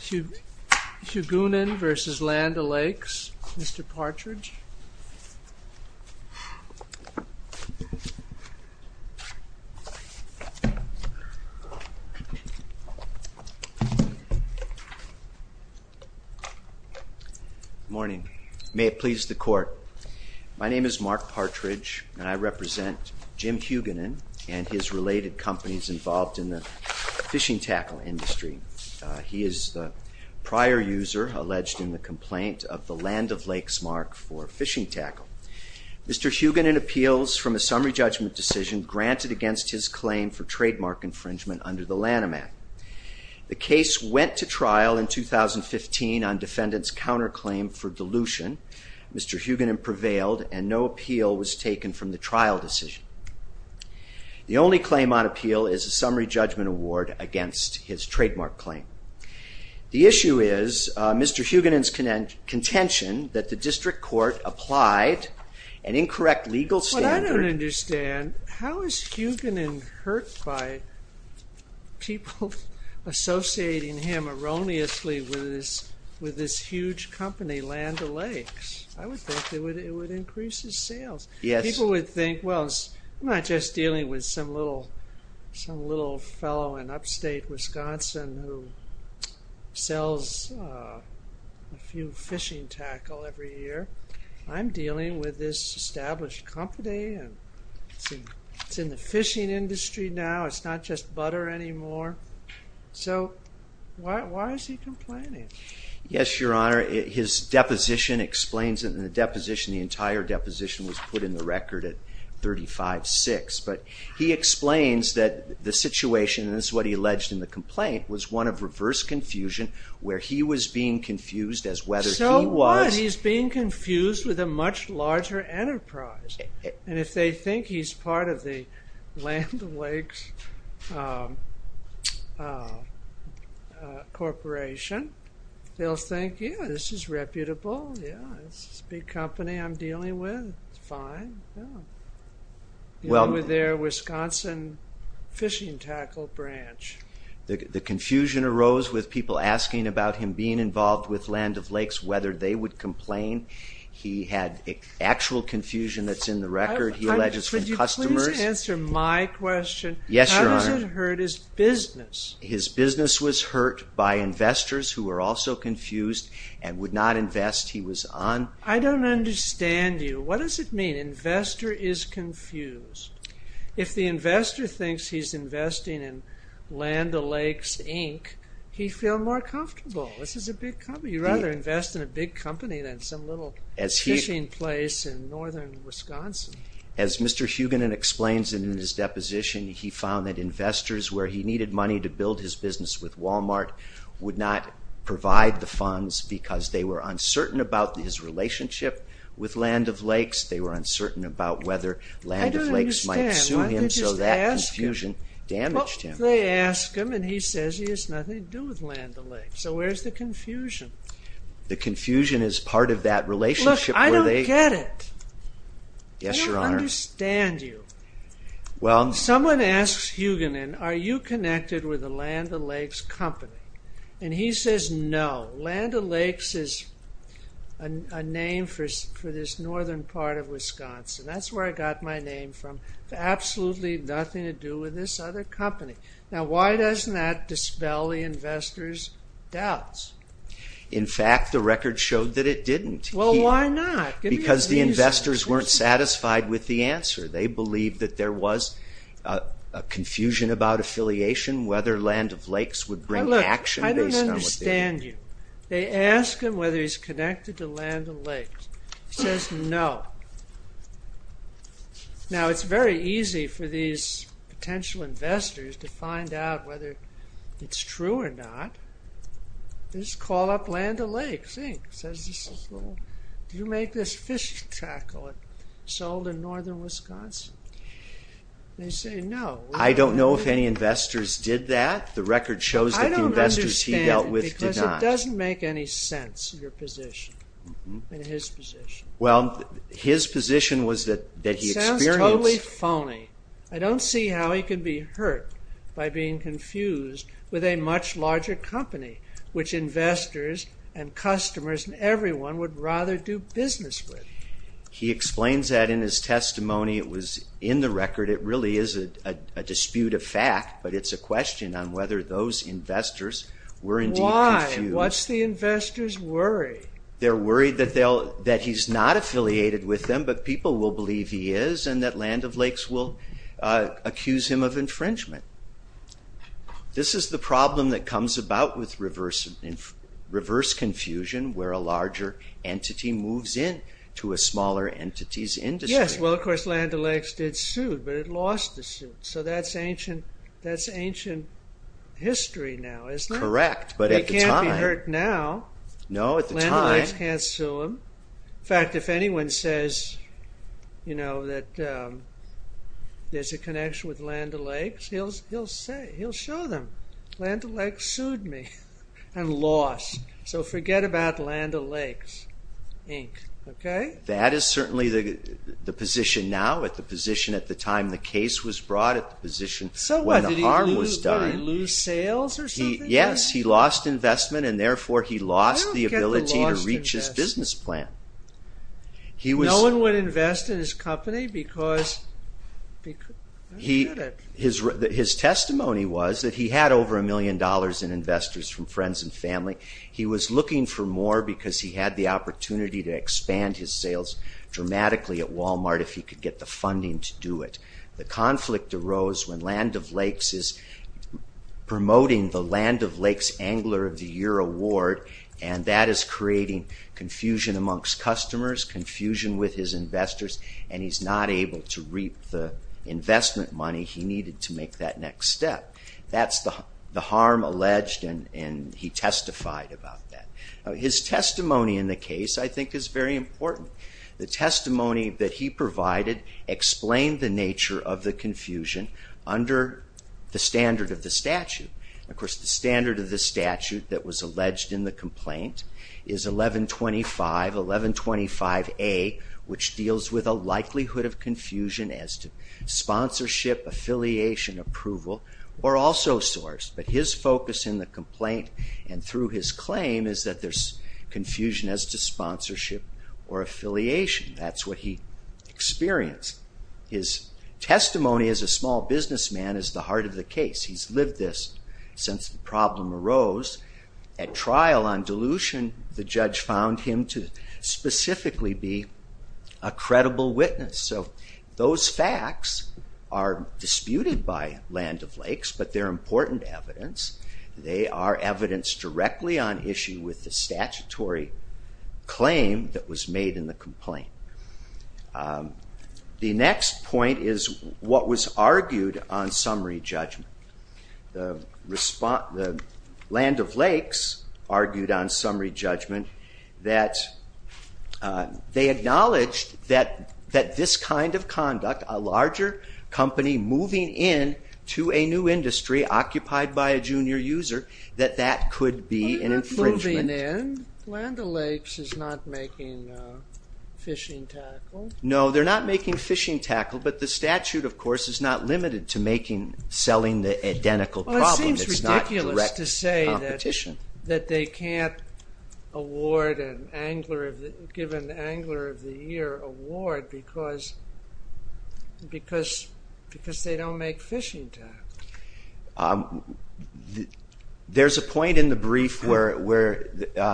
Hugunin v. Land O'Lakes, Mr. Partridge. Morning. May it please the Court. My name is Mark Partridge and I represent Jim Hugunin and his related companies involved in the fishing tackle industry. He is the prior user alleged in the complaint of the Land O'Lakes mark for fishing tackle. Mr. Hugunin appeals from a summary judgment decision granted against his claim for trademark infringement under the Lanham Act. The case went to trial in 2015 on defendants counterclaim for dilution. Mr. Hugunin prevailed and no appeal was taken from the trial decision. The only claim on The issue is Mr. Hugunin's contention that the district court applied an incorrect legal standard. What I don't understand, how is Hugunin hurt by people associating him erroneously with this huge company, Land O'Lakes? I would think it would increase his sales. Yes. People would think, well it's not just dealing with some little fellow in upstate Wisconsin who sells a few fishing tackle every year. I'm dealing with this established company and it's in the fishing industry now. It's not just butter anymore. So why is he complaining? Yes, Your Honor. His deposition explains it. In the deposition, the entire but he explains that the situation is what he alleged in the complaint was one of reverse confusion where he was being confused as whether he was. So what? He's being confused with a much larger enterprise. And if they think he's part of the Land O'Lakes Corporation, they'll think yeah, this is reputable. Yeah, it's a big company I'm The confusion arose with people asking about him being involved with Land O'Lakes, whether they would complain. He had actual confusion that's in the record. He alleges from customers. Could you please answer my question? Yes, Your Honor. How does it hurt his business? His business was hurt by investors who were also confused and would not invest he was on. I don't understand you. What does it mean? Investor is confused. If the investor thinks he's investing in Land O'Lakes, Inc., he'd feel more comfortable. This is a big company. You'd rather invest in a big company than some little fishing place in northern Wisconsin. As Mr. Hugan explains in his deposition, he found that investors where he needed money to build his business with Walmart would not provide the funds because they were uncertain about his relationship with Land O'Lakes. They were uncertain about whether Land O'Lakes might sue him so that confusion damaged him. They ask him and he says he has nothing to do with Land O'Lakes. So where's the confusion? The confusion is part of that relationship. Look, I don't get it. Yes, Your Honor. I don't understand you. Someone asks Hugan, are you connected with the Land O'Lakes company? And he says no. Land O'Lakes is a name for this northern part of Wisconsin. That's where I got my name from. Absolutely nothing to do with this other company. Now why doesn't that dispel the investors' doubts? In fact, the record showed that it didn't. Well, why not? Because the investors weren't satisfied with the answer. They believed that there was a confusion about affiliation, whether Land O'Lakes would bring action. I don't understand you. They ask him whether he's connected to Land O'Lakes. He says no. Now it's very easy for these potential investors to find out whether it's true or not. Just call up Land O'Lakes. Do you make this fish tackle that's sold in northern Wisconsin? They say no. I don't know if any investors did that. The record shows that the investors he dealt with did not. I don't understand you because it doesn't make any sense, your position. Well, his position was that he experienced... It sounds totally phony. I don't see how he can be hurt by being confused with a much larger company, which investors and customers and everyone would rather do business with. He explains that in his testimony. It was in the record. It really is a dispute of fact, but it's a question on whether those investors were indeed confused. Why? What's the investors' worry? They're worried that he's not affiliated with them, but people will believe he is and that Land O'Lakes will accuse him of infringement. This is the problem that comes about with reverse confusion where a larger entity moves in to a smaller entity's industry. Of course, Land O'Lakes did sue, but it lost the suit. That's ancient history now, isn't it? They can't be hurt now. Land O'Lakes can't sue them. In fact, if anyone says that there's a connection with Land O'Lakes, he'll show them. Land O'Lakes sued me and lost. So forget about Land O'Lakes, Inc. That is certainly the position now, the position at the time the case was brought, the position when the harm was done. Did he lose sales or something? Yes, he lost investment and therefore he lost the ability to reach his business plan. No one would invest in his company? His testimony was that he had over a million dollars in investors from friends and family. He was looking for more because he had the opportunity to expand his sales dramatically at Walmart if he could get the funding to do it. The conflict arose when Land O'Lakes is promoting the Land O'Lakes Angler of the Year Award, and that is creating confusion amongst customers, confusion with his investors, and he's not able to reap the investment money he needed to make that next step. That's the harm alleged, and he testified about that. His testimony in the case I think is very important. The testimony that he provided explained the nature of the confusion under the standard of the statute. Of course, the standard of the statute that was alleged in the complaint is 1125, 1125A, which deals with a likelihood of confusion as to sponsorship, affiliation, approval, or also source. But his focus in the complaint and through his claim is that there's confusion as to sponsorship or affiliation. That's what he experienced. His testimony as a small businessman is the heart of the case. He's lived this since the problem arose. At trial on dilution, the judge found him to specifically be a credible witness. So those facts are disputed by Land O'Lakes, but they're important evidence. They are evidence directly on issue with the statutory claim that was made in the complaint. The next point is what was argued on summary judgment. Land O'Lakes argued on summary judgment that they acknowledged that this kind of conduct, a larger company moving in to a new industry occupied by a junior user, that that could be an infringement. And then Land O'Lakes is not making fishing tackle? No, they're not making fishing tackle, but the statute, of course, is not limited to making, selling the identical problem. Well, it seems ridiculous to say that they can't award an angler, give an angler of the year award because they don't make fishing tackle. There's a point in the brief where,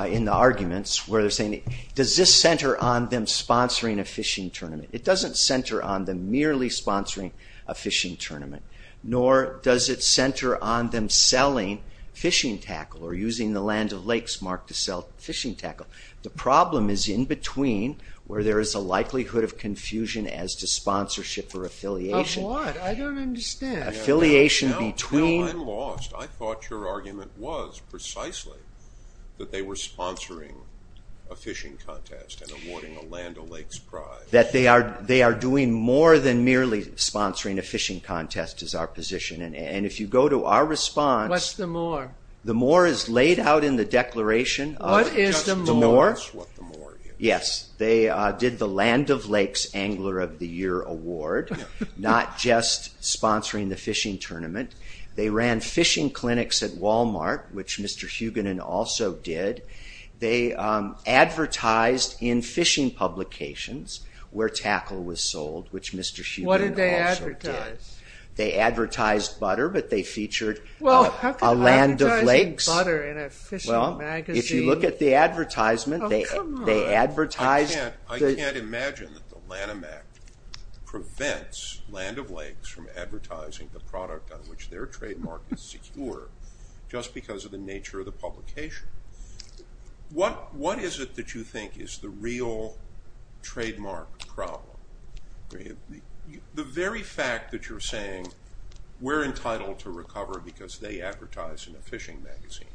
in the arguments, where they're saying, does this center on them sponsoring a fishing tournament? It doesn't center on them merely sponsoring a fishing tournament, nor does it center on them selling fishing tackle or using the Land O'Lakes mark to sell fishing tackle. The problem is in between where there is a likelihood of confusion as to sponsorship or affiliation. Of what? I don't understand. I'm lost. I thought your argument was precisely that they were sponsoring a fishing contest and awarding a Land O'Lakes prize. That they are doing more than merely sponsoring a fishing contest is our position, and if you go to our response. What's the more? The more is laid out in the declaration. What is the more? Yes, they did the Land O'Lakes Angler of the Year Award, not just sponsoring the fishing tournament. They ran fishing clinics at Walmart, which Mr. Hugenin also did. They advertised in fishing publications where tackle was sold, which Mr. Hugenin also did. What did they advertise? They advertised butter, but they featured a Land O'Lakes. How could they advertise butter in a fishing magazine? If you look at the advertisement, they advertised. I can't imagine that the Lanham Act prevents Land O'Lakes from advertising the product on which their trademark is secure, just because of the nature of the publication. What is it that you think is the real trademark problem? The very fact that you're saying we're entitled to recover because they advertise in a fishing magazine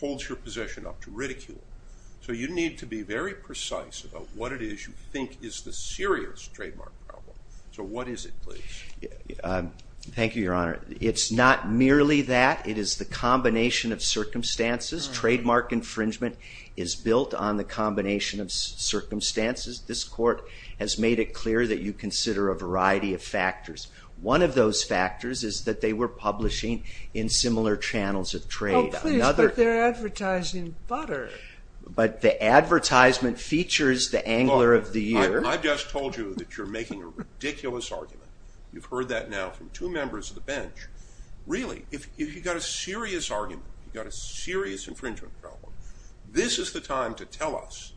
holds your possession up to ridicule. So you need to be very precise about what it is you think is the serious trademark problem. So what is it, please? Thank you, Your Honor. It's not merely that. It is the combination of circumstances. Trademark infringement is built on the combination of circumstances. This Court has made it clear that you consider a variety of factors. One of those factors is that they were publishing in similar channels of trade. But they're advertising butter. But the advertisement features the angler of the year. I just told you that you're making a ridiculous argument. You've heard that now from two members of the bench. Really, if you've got a serious argument, you've got a serious infringement problem, this is the time to tell us.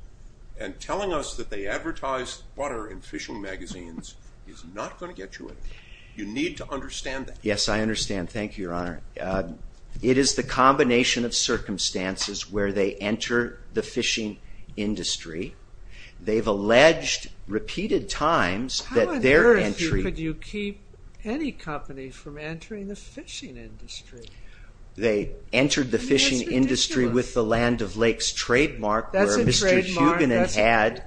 And telling us that they advertise butter in fishing magazines is not going to get you anywhere. Yes, I understand. Thank you, Your Honor. It is the combination of circumstances where they enter the fishing industry. They've alleged repeated times that their entry... How on earth could you keep any company from entering the fishing industry? They entered the fishing industry with the Land O'Lakes trademark, where Mr. Hugenin had...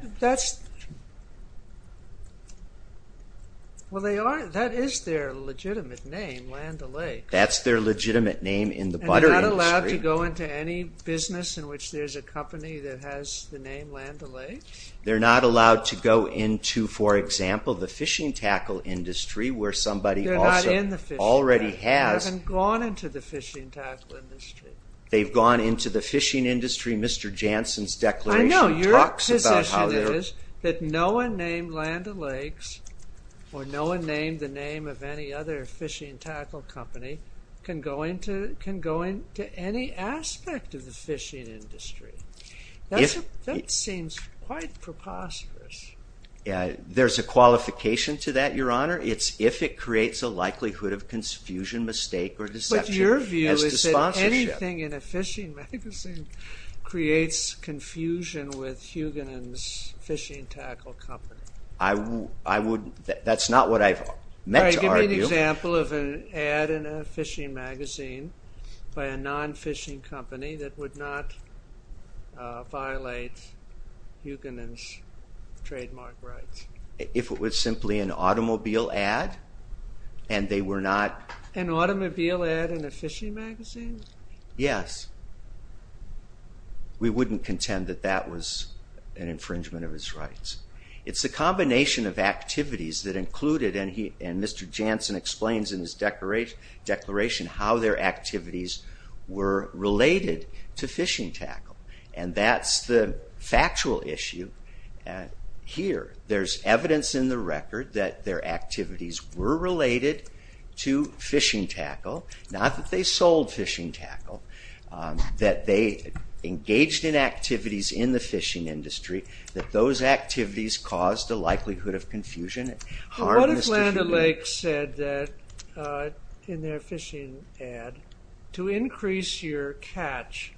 Well, that is their legitimate name, Land O'Lakes. That's their legitimate name in the butter industry. And they're not allowed to go into any business in which there's a company that has the name Land O'Lakes? They're not allowed to go into, for example, the fishing tackle industry, where somebody... They're not in the fishing industry. ...already has. They haven't gone into the fishing tackle industry. They've gone into the fishing industry. Mr. Janssen's declaration talks about how... I know. ...that no one named Land O'Lakes or no one named the name of any other fishing tackle company can go into any aspect of the fishing industry. That seems quite preposterous. There's a qualification to that, Your Honor. It's if it creates a likelihood of confusion, mistake, or deception as to sponsorship. Anything in a fishing magazine creates confusion with Hugenin's fishing tackle company. That's not what I meant to argue. All right. Give me an example of an ad in a fishing magazine by a non-fishing company that would not violate Hugenin's trademark rights. If it was simply an automobile ad and they were not... An automobile ad in a fishing magazine? Yes. We wouldn't contend that that was an infringement of his rights. It's a combination of activities that included, and Mr. Janssen explains in his declaration how their activities were related to fishing tackle, and that's the factual issue here. There's evidence in the record that their activities were related to fishing tackle, not that they sold fishing tackle, that they engaged in activities in the fishing industry, that those activities caused a likelihood of confusion. What if Land O'Lakes said in their fishing ad, to increase your catch,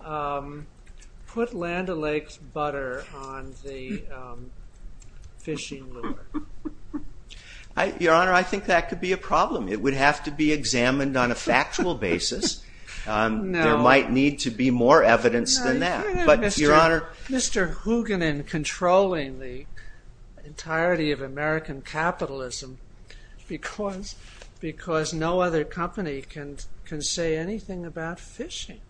put Land O'Lakes butter on the fishing lure? Your Honor, I think that could be a problem. It would have to be examined on a factual basis. There might need to be more evidence than that. Mr. Hugenin controlling the entirety of American capitalism because no other company can say anything about fishing.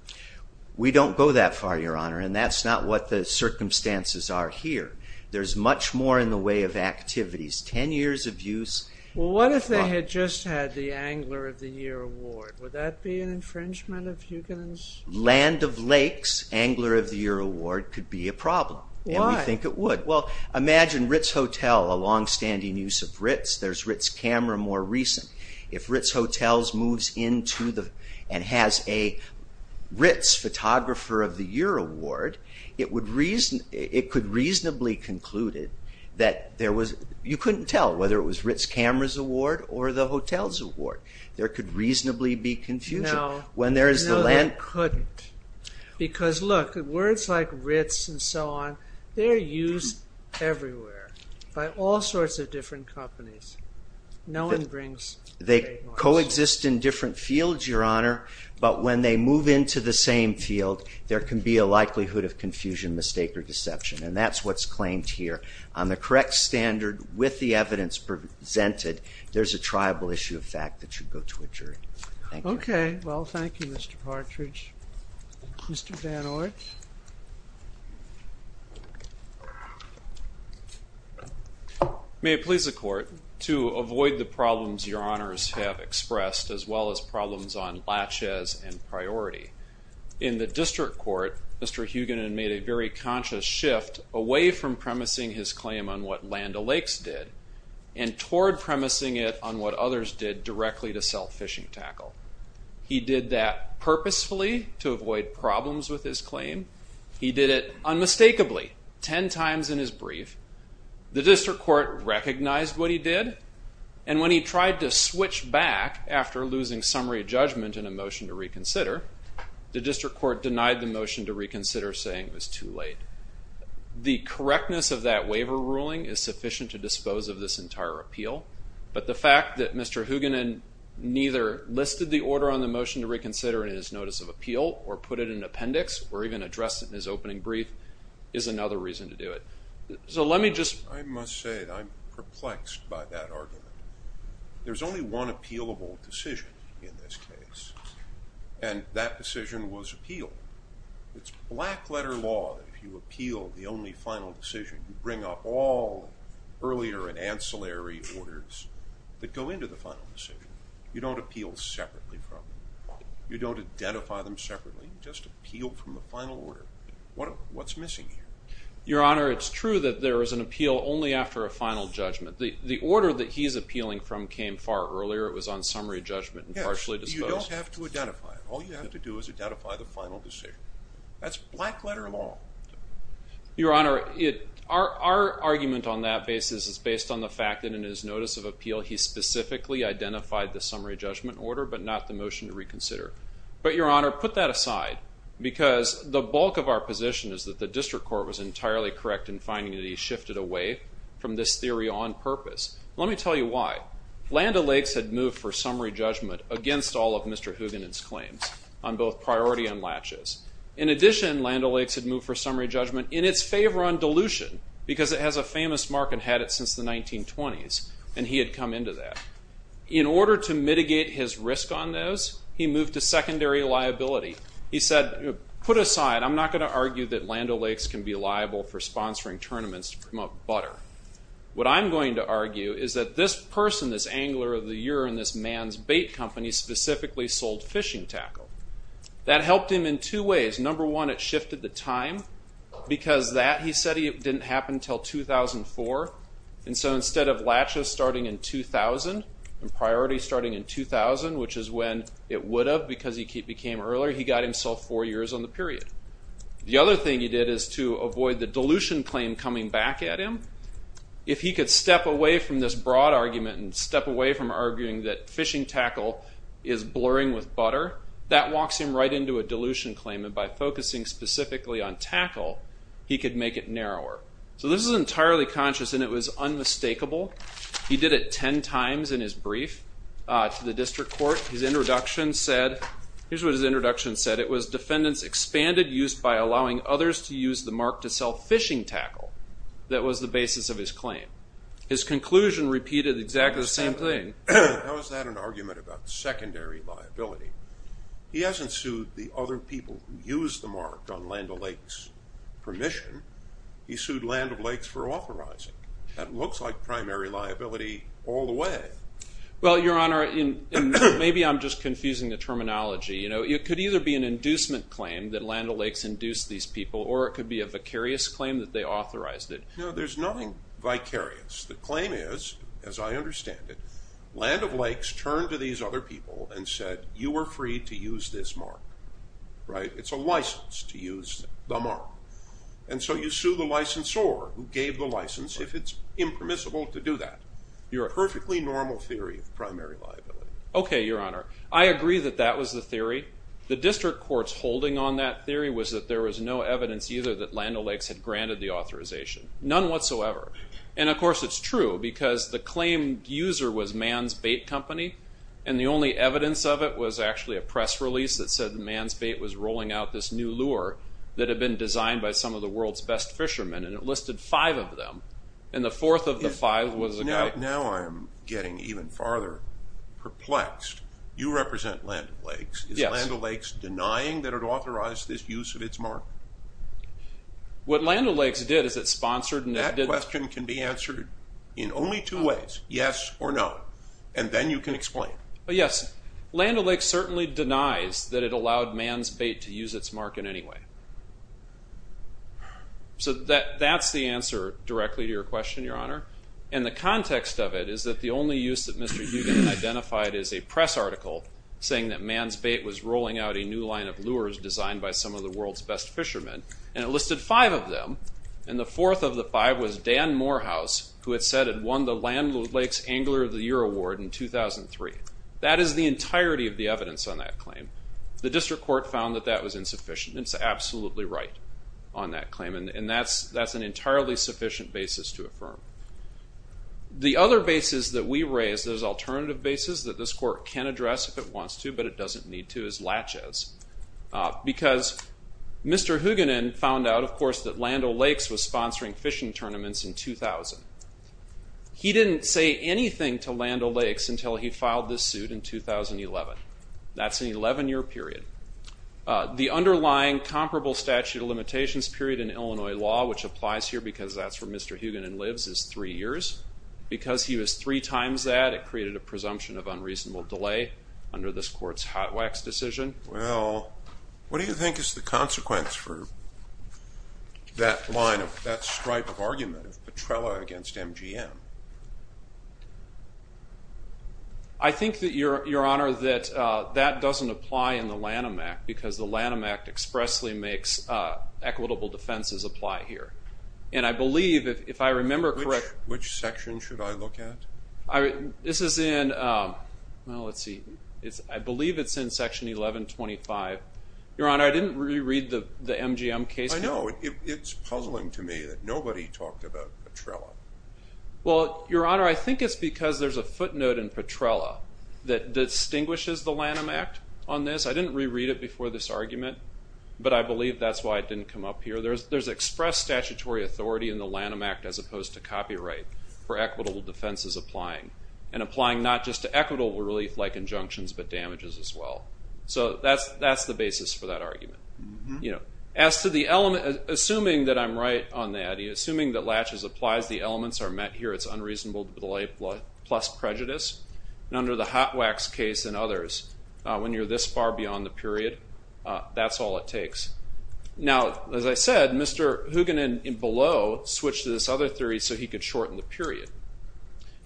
We don't go that far, Your Honor, and that's not what the circumstances are here. There's much more in the way of activities. Ten years of use... What if they had just had the Angler of the Year Award? Would that be an infringement of Hugenin's... Land O'Lakes Angler of the Year Award could be a problem, and we think it would. Well, imagine Ritz Hotel, a longstanding use of Ritz. There's Ritz Camera more recent. If Ritz Hotels moves into and has a Ritz Photographer of the Year Award, it could reasonably conclude that there was... You couldn't tell whether it was Ritz Camera's award or the hotel's award. There could reasonably be confusion. No, they couldn't. Because, look, words like Ritz and so on, they're used everywhere by all sorts of different companies. No one brings... They coexist in different fields, Your Honor, but when they move into the same field, there can be a likelihood of confusion, mistake, or deception, and that's what's claimed here. On the correct standard with the evidence presented, there's a triable issue of fact that should go to a jury. Okay. Well, thank you, Mr. Partridge. Mr. Van Oort. May it please the Court, to avoid the problems Your Honors have expressed as well as problems on laches and priority. In the district court, Mr. Hugen had made a very conscious shift away from premising his claim on what Land O'Lakes did and toward premising it on what others did directly to self-phishing tackle. He did that purposefully to avoid problems with his claim. He did it unmistakably 10 times in his brief. The district court recognized what he did, and when he tried to switch back after losing summary judgment in a motion to reconsider, the district court denied the motion to reconsider, saying it was too late. The correctness of that waiver ruling is sufficient to dispose of this entire appeal, but the fact that Mr. Hugen neither listed the order on the motion to reconsider in his notice of appeal or put it in an appendix or even addressed it in his opening brief is another reason to do it. So let me just... I must say that I'm perplexed by that argument. There's only one appealable decision in this case, and that decision was appeal. It's black-letter law if you appeal the only final decision. You bring up all earlier and ancillary orders that go into the final decision. You don't appeal separately from them. You don't identify them separately. You just appeal from the final order. What's missing here? Your Honor, it's true that there is an appeal only after a final judgment. The order that he's appealing from came far earlier. It was on summary judgment and partially disposed. Yes, but you don't have to identify it. All you have to do is identify the final decision. That's black-letter law. Your Honor, our argument on that basis is based on the fact that in his notice of appeal he specifically identified the summary judgment order but not the motion to reconsider. But, Your Honor, put that aside because the bulk of our position is that the district court was entirely correct in finding that he shifted away from this theory on purpose. Let me tell you why. Land O'Lakes had moved for summary judgment against all of Mr. Huganin's claims on both priority and latches. In addition, Land O'Lakes had moved for summary judgment in its favor on dilution because it has a famous market, had it since the 1920s, and he had come into that. In order to mitigate his risk on those, he moved to secondary liability. He said, put aside, I'm not going to argue that Land O'Lakes can be liable for sponsoring tournaments to promote butter. What I'm going to argue is that this person, this angler of the year in this man's bait company specifically sold fishing tackle. That helped him in two ways. Number one, it shifted the time because that, he said, didn't happen until 2004. And so instead of latches starting in 2000 and priority starting in 2000, which is when it would have because he became earlier, he got himself four years on the period. The other thing he did is to avoid the dilution claim coming back at him. If he could step away from this broad argument and step away from arguing that fishing tackle is blurring with butter, that walks him right into a dilution claim. And by focusing specifically on tackle, he could make it narrower. So this is entirely conscious, and it was unmistakable. He did it 10 times in his brief to the district court. His introduction said, here's what his introduction said. It was defendants expanded use by allowing others to use the mark to sell fishing tackle. That was the basis of his claim. His conclusion repeated exactly the same thing. Now is that an argument about secondary liability? He hasn't sued the other people who used the mark on Land O'Lakes permission. He sued Land O'Lakes for authorizing. That looks like primary liability all the way. Well, Your Honor, maybe I'm just confusing the terminology. It could either be an inducement claim that Land O'Lakes induced these people, or it could be a vicarious claim that they authorized it. No, there's nothing vicarious. The claim is, as I understand it, Land O'Lakes turned to these other people and said, you are free to use this mark. Right? It's a license to use the mark. And so you sue the licensor who gave the license if it's impermissible to do that. Your perfectly normal theory of primary liability. Okay, Your Honor. I agree that that was the theory. The district court's holding on that theory was that there was no evidence either that Land O'Lakes had granted the authorization. None whatsoever. And of course it's true, because the claim user was Man's Bait Company, and the only evidence of it was actually a press release that said that Man's Bait was rolling out this new lure that had been designed by some of the world's best fishermen, and it listed five of them. And the fourth of the five was a guy... Now I'm getting even farther perplexed. You represent Land O'Lakes. Is Land O'Lakes denying that it authorized this use of its mark? What Land O'Lakes did is it sponsored... The question can be answered in only two ways, yes or no, and then you can explain. Yes, Land O'Lakes certainly denies that it allowed Man's Bait to use its mark in any way. So that's the answer directly to your question, Your Honor. And the context of it is that the only use that Mr. Hugen identified is a press article saying that Man's Bait was rolling out a new line of lures designed by some of the world's best fishermen, and it listed five of them, and the fourth of the five was Dan Morehouse, who had said had won the Land O'Lakes Angler of the Year Award in 2003. That is the entirety of the evidence on that claim. The district court found that that was insufficient. It's absolutely right on that claim, and that's an entirely sufficient basis to affirm. The other basis that we raise, those alternative bases, that this court can address if it wants to, but it doesn't need to, is Laches. Because Mr. Hugenen found out, of course, that Land O'Lakes was sponsoring fishing tournaments in 2000. He didn't say anything to Land O'Lakes until he filed this suit in 2011. That's an 11-year period. The underlying comparable statute of limitations period in Illinois law, which applies here because that's where Mr. Hugenen lives, is three years. Because he was three times that, it created a presumption of unreasonable delay under this court's hot wax decision. Well, what do you think is the consequence for that line of, that stripe of argument of Petrella against MGM? I think that, Your Honor, that that doesn't apply in the Lanham Act because the Lanham Act expressly makes equitable defenses apply here. And I believe, if I remember correctly. Which section should I look at? This is in, well, let's see. I believe it's in Section 1125. Your Honor, I didn't reread the MGM case. I know. It's puzzling to me that nobody talked about Petrella. Well, Your Honor, I think it's because there's a footnote in Petrella that distinguishes the Lanham Act on this. I didn't reread it before this argument, but I believe that's why it didn't come up here. There's express statutory authority in the Lanham Act as opposed to copyright for equitable defenses applying. And applying not just to equitable relief like injunctions, but damages as well. So that's the basis for that argument. As to the element, assuming that I'm right on that, assuming that Latches applies the elements are met here, it's unreasonable to belay plus prejudice. And under the hot wax case and others, when you're this far beyond the period, that's all it takes. Now, as I said, Mr. Hoogan and Below switched to this other theory so he could shorten the period.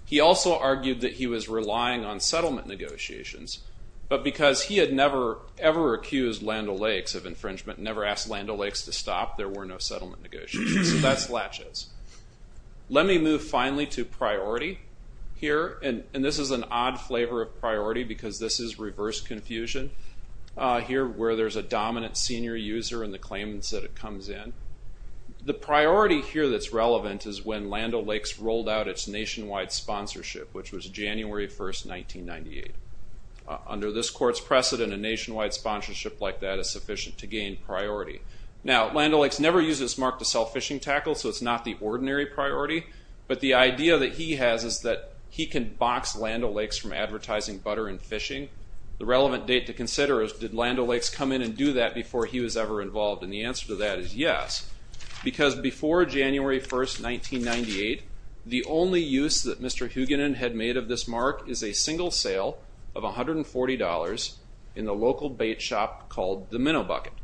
He also argued that he was relying on settlement negotiations, but because he had never ever accused Land O'Lakes of infringement, never asked Land O'Lakes to stop, there were no settlement negotiations. So that's Latches. Let me move finally to priority here. And this is an odd flavor of priority because this is reverse confusion here where there's a dominant senior user in the claimants that it comes in. The priority here that's relevant is when Land O'Lakes rolled out its nationwide sponsorship, which was January 1st, 1998. Under this court's precedent, a nationwide sponsorship like that is sufficient to gain priority. Now, Land O'Lakes never used its mark to sell fishing tackles, so it's not the ordinary priority. But the idea that he has is that he can box Land O'Lakes from advertising butter and fishing. The relevant date to consider is, did Land O'Lakes come in and do that before he was ever involved? And the answer to that is yes, because before January 1st, 1998, the only use that Mr. Hugenin had made of this mark is a single sale of $140 in the local bait shop called The Minnow Bucket.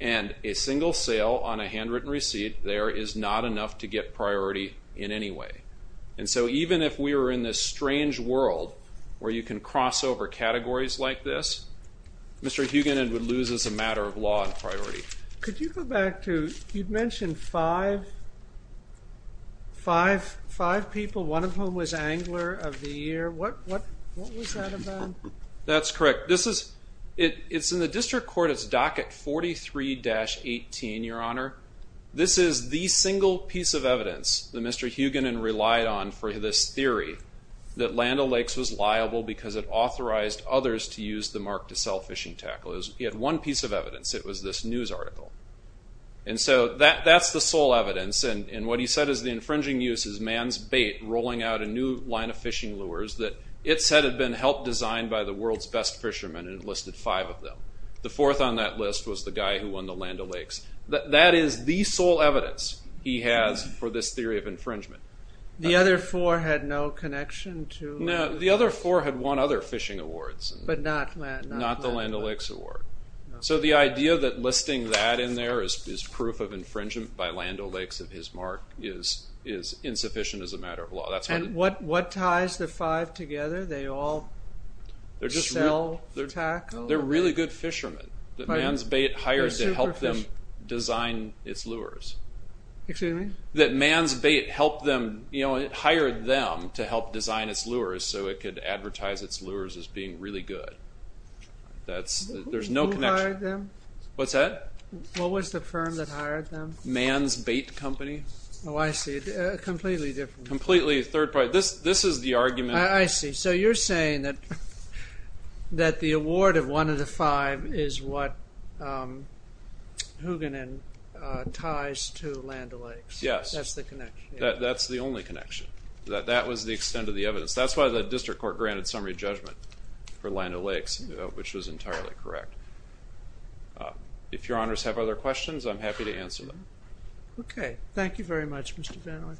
And a single sale on a handwritten receipt there is not enough to get priority in any way. And so even if we were in this strange world where you can cross over categories like this, Mr. Hugenin would lose as a matter of law and priority. Could you go back to, you'd mentioned five people, one of whom was Angler of the Year. What was that about? That's correct. It's in the district court. It's docket 43-18, Your Honor. This is the single piece of evidence that Mr. Hugenin relied on for this theory that Land O'Lakes was liable because it authorized others to use the mark to sell fishing tackle. He had one piece of evidence. It was this news article. And so that's the sole evidence. And what he said is the infringing use is man's bait rolling out a new line of fishing lures that it said had been helped design by the world's best fishermen, and it listed five of them. The fourth on that list was the guy who won the Land O'Lakes. That is the sole evidence he has for this theory of infringement. The other four had no connection to? No, the other four had won other fishing awards. But not Land O'Lakes. Not the Land O'Lakes award. So the idea that listing that in there as proof of infringement by Land O'Lakes of his mark is insufficient as a matter of law. And what ties the five together? They all sell tackle? They're really good fishermen. That man's bait hired to help them design its lures. Excuse me? That man's bait hired them to help design its lures so it could advertise its lures as being really good. There's no connection. Who hired them? What's that? What was the firm that hired them? Man's Bait Company. Oh, I see. Completely different. Completely third party. This is the argument. I see. So you're saying that the award of one of the five is what Houganin ties to Land O'Lakes. Yes. That's the connection. That's the only connection. That was the extent of the evidence. That's why the district court granted summary judgment for Land O'Lakes, which was entirely correct. If your honors have other questions, I'm happy to answer them. Okay. Thank you very much, Mr. Van Ooy.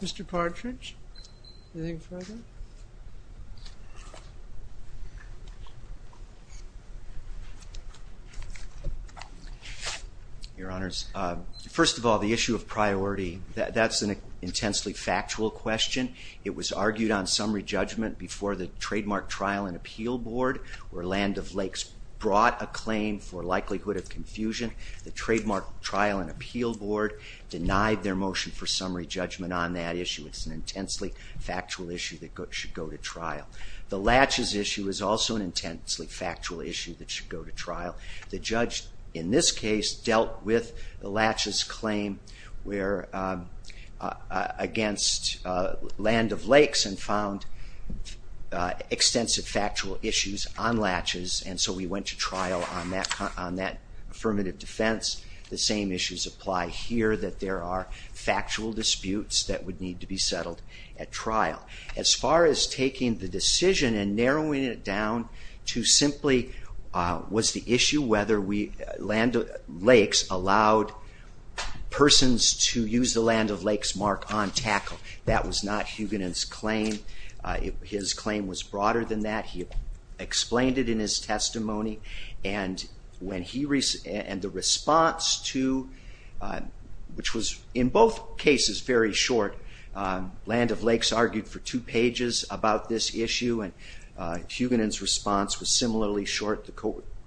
Mr. Partridge, anything further? Your honors, first of all, the issue of priority, that's an intensely factual question. It was argued on summary judgment before the trademark trial and appeal board where Land O'Lakes brought a claim for likelihood of confusion. The trademark trial and appeal board denied their motion for summary judgment on that issue. It's an intensely factual issue that should go to trial. The Latches issue is also an intensely factual issue that should go to trial. The judge in this case dealt with the Latches claim against Land O'Lakes and found extensive factual issues on Latches, and so we went to trial on that affirmative defense. The same issues apply here, that there are factual disputes that would need to be settled at trial. As far as taking the decision and narrowing it down to simply was the issue whether Land O'Lakes allowed persons to use the Land O'Lakes mark on tackle, that was not Huganin's claim. His claim was broader than that. He explained it in his testimony, and the response to, which was in both cases very short. Land O'Lakes argued for two pages about this issue, and Huganin's response was similarly short.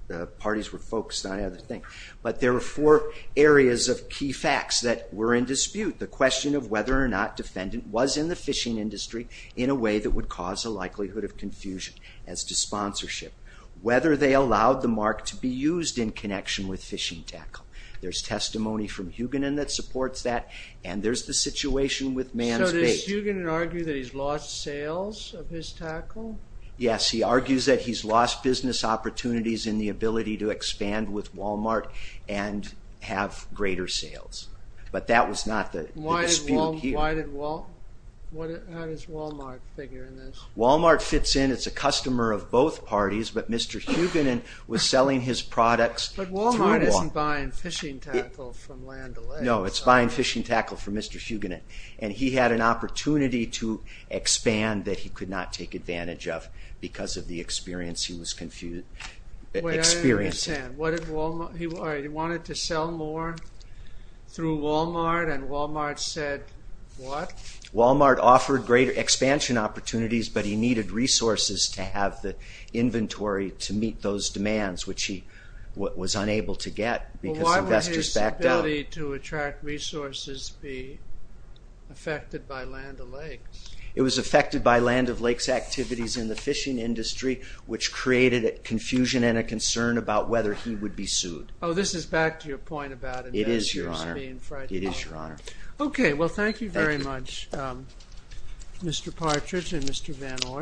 The parties were focused on another thing, but there were four areas of key facts that were in dispute. The question of whether or not defendant was in the fishing industry in a way that would cause a likelihood of confusion as to sponsorship. Whether they allowed the mark to be used in connection with fishing tackle. There's testimony from Huganin that supports that, and there's the situation with man's bait. So does Huganin argue that he's lost sales of his tackle? Yes, he argues that he's lost business opportunities in the ability to expand with Walmart and have greater sales, but that was not the dispute here. How does Walmart figure in this? Walmart fits in. It's a customer of both parties, but Mr. Huganin was selling his products. But Walmart isn't buying fishing tackle from Land O'Lakes. No, it's buying fishing tackle from Mr. Huganin, and he had an opportunity to expand that he could not take advantage of because of the experience he was experiencing. Wait, I don't understand. He wanted to sell more through Walmart, and Walmart said what? Walmart offered greater expansion opportunities, but he needed resources to have the inventory to meet those demands, which he was unable to get because investors backed out. Why would his ability to attract resources be affected by Land O'Lakes? It was affected by Land O'Lakes activities in the fishing industry, which created confusion and a concern about whether he would be sued. Oh, this is back to your point about investors being frightened. It is, Your Honor. Okay, well, thank you very much, Mr. Partridge and Mr. Van Orn.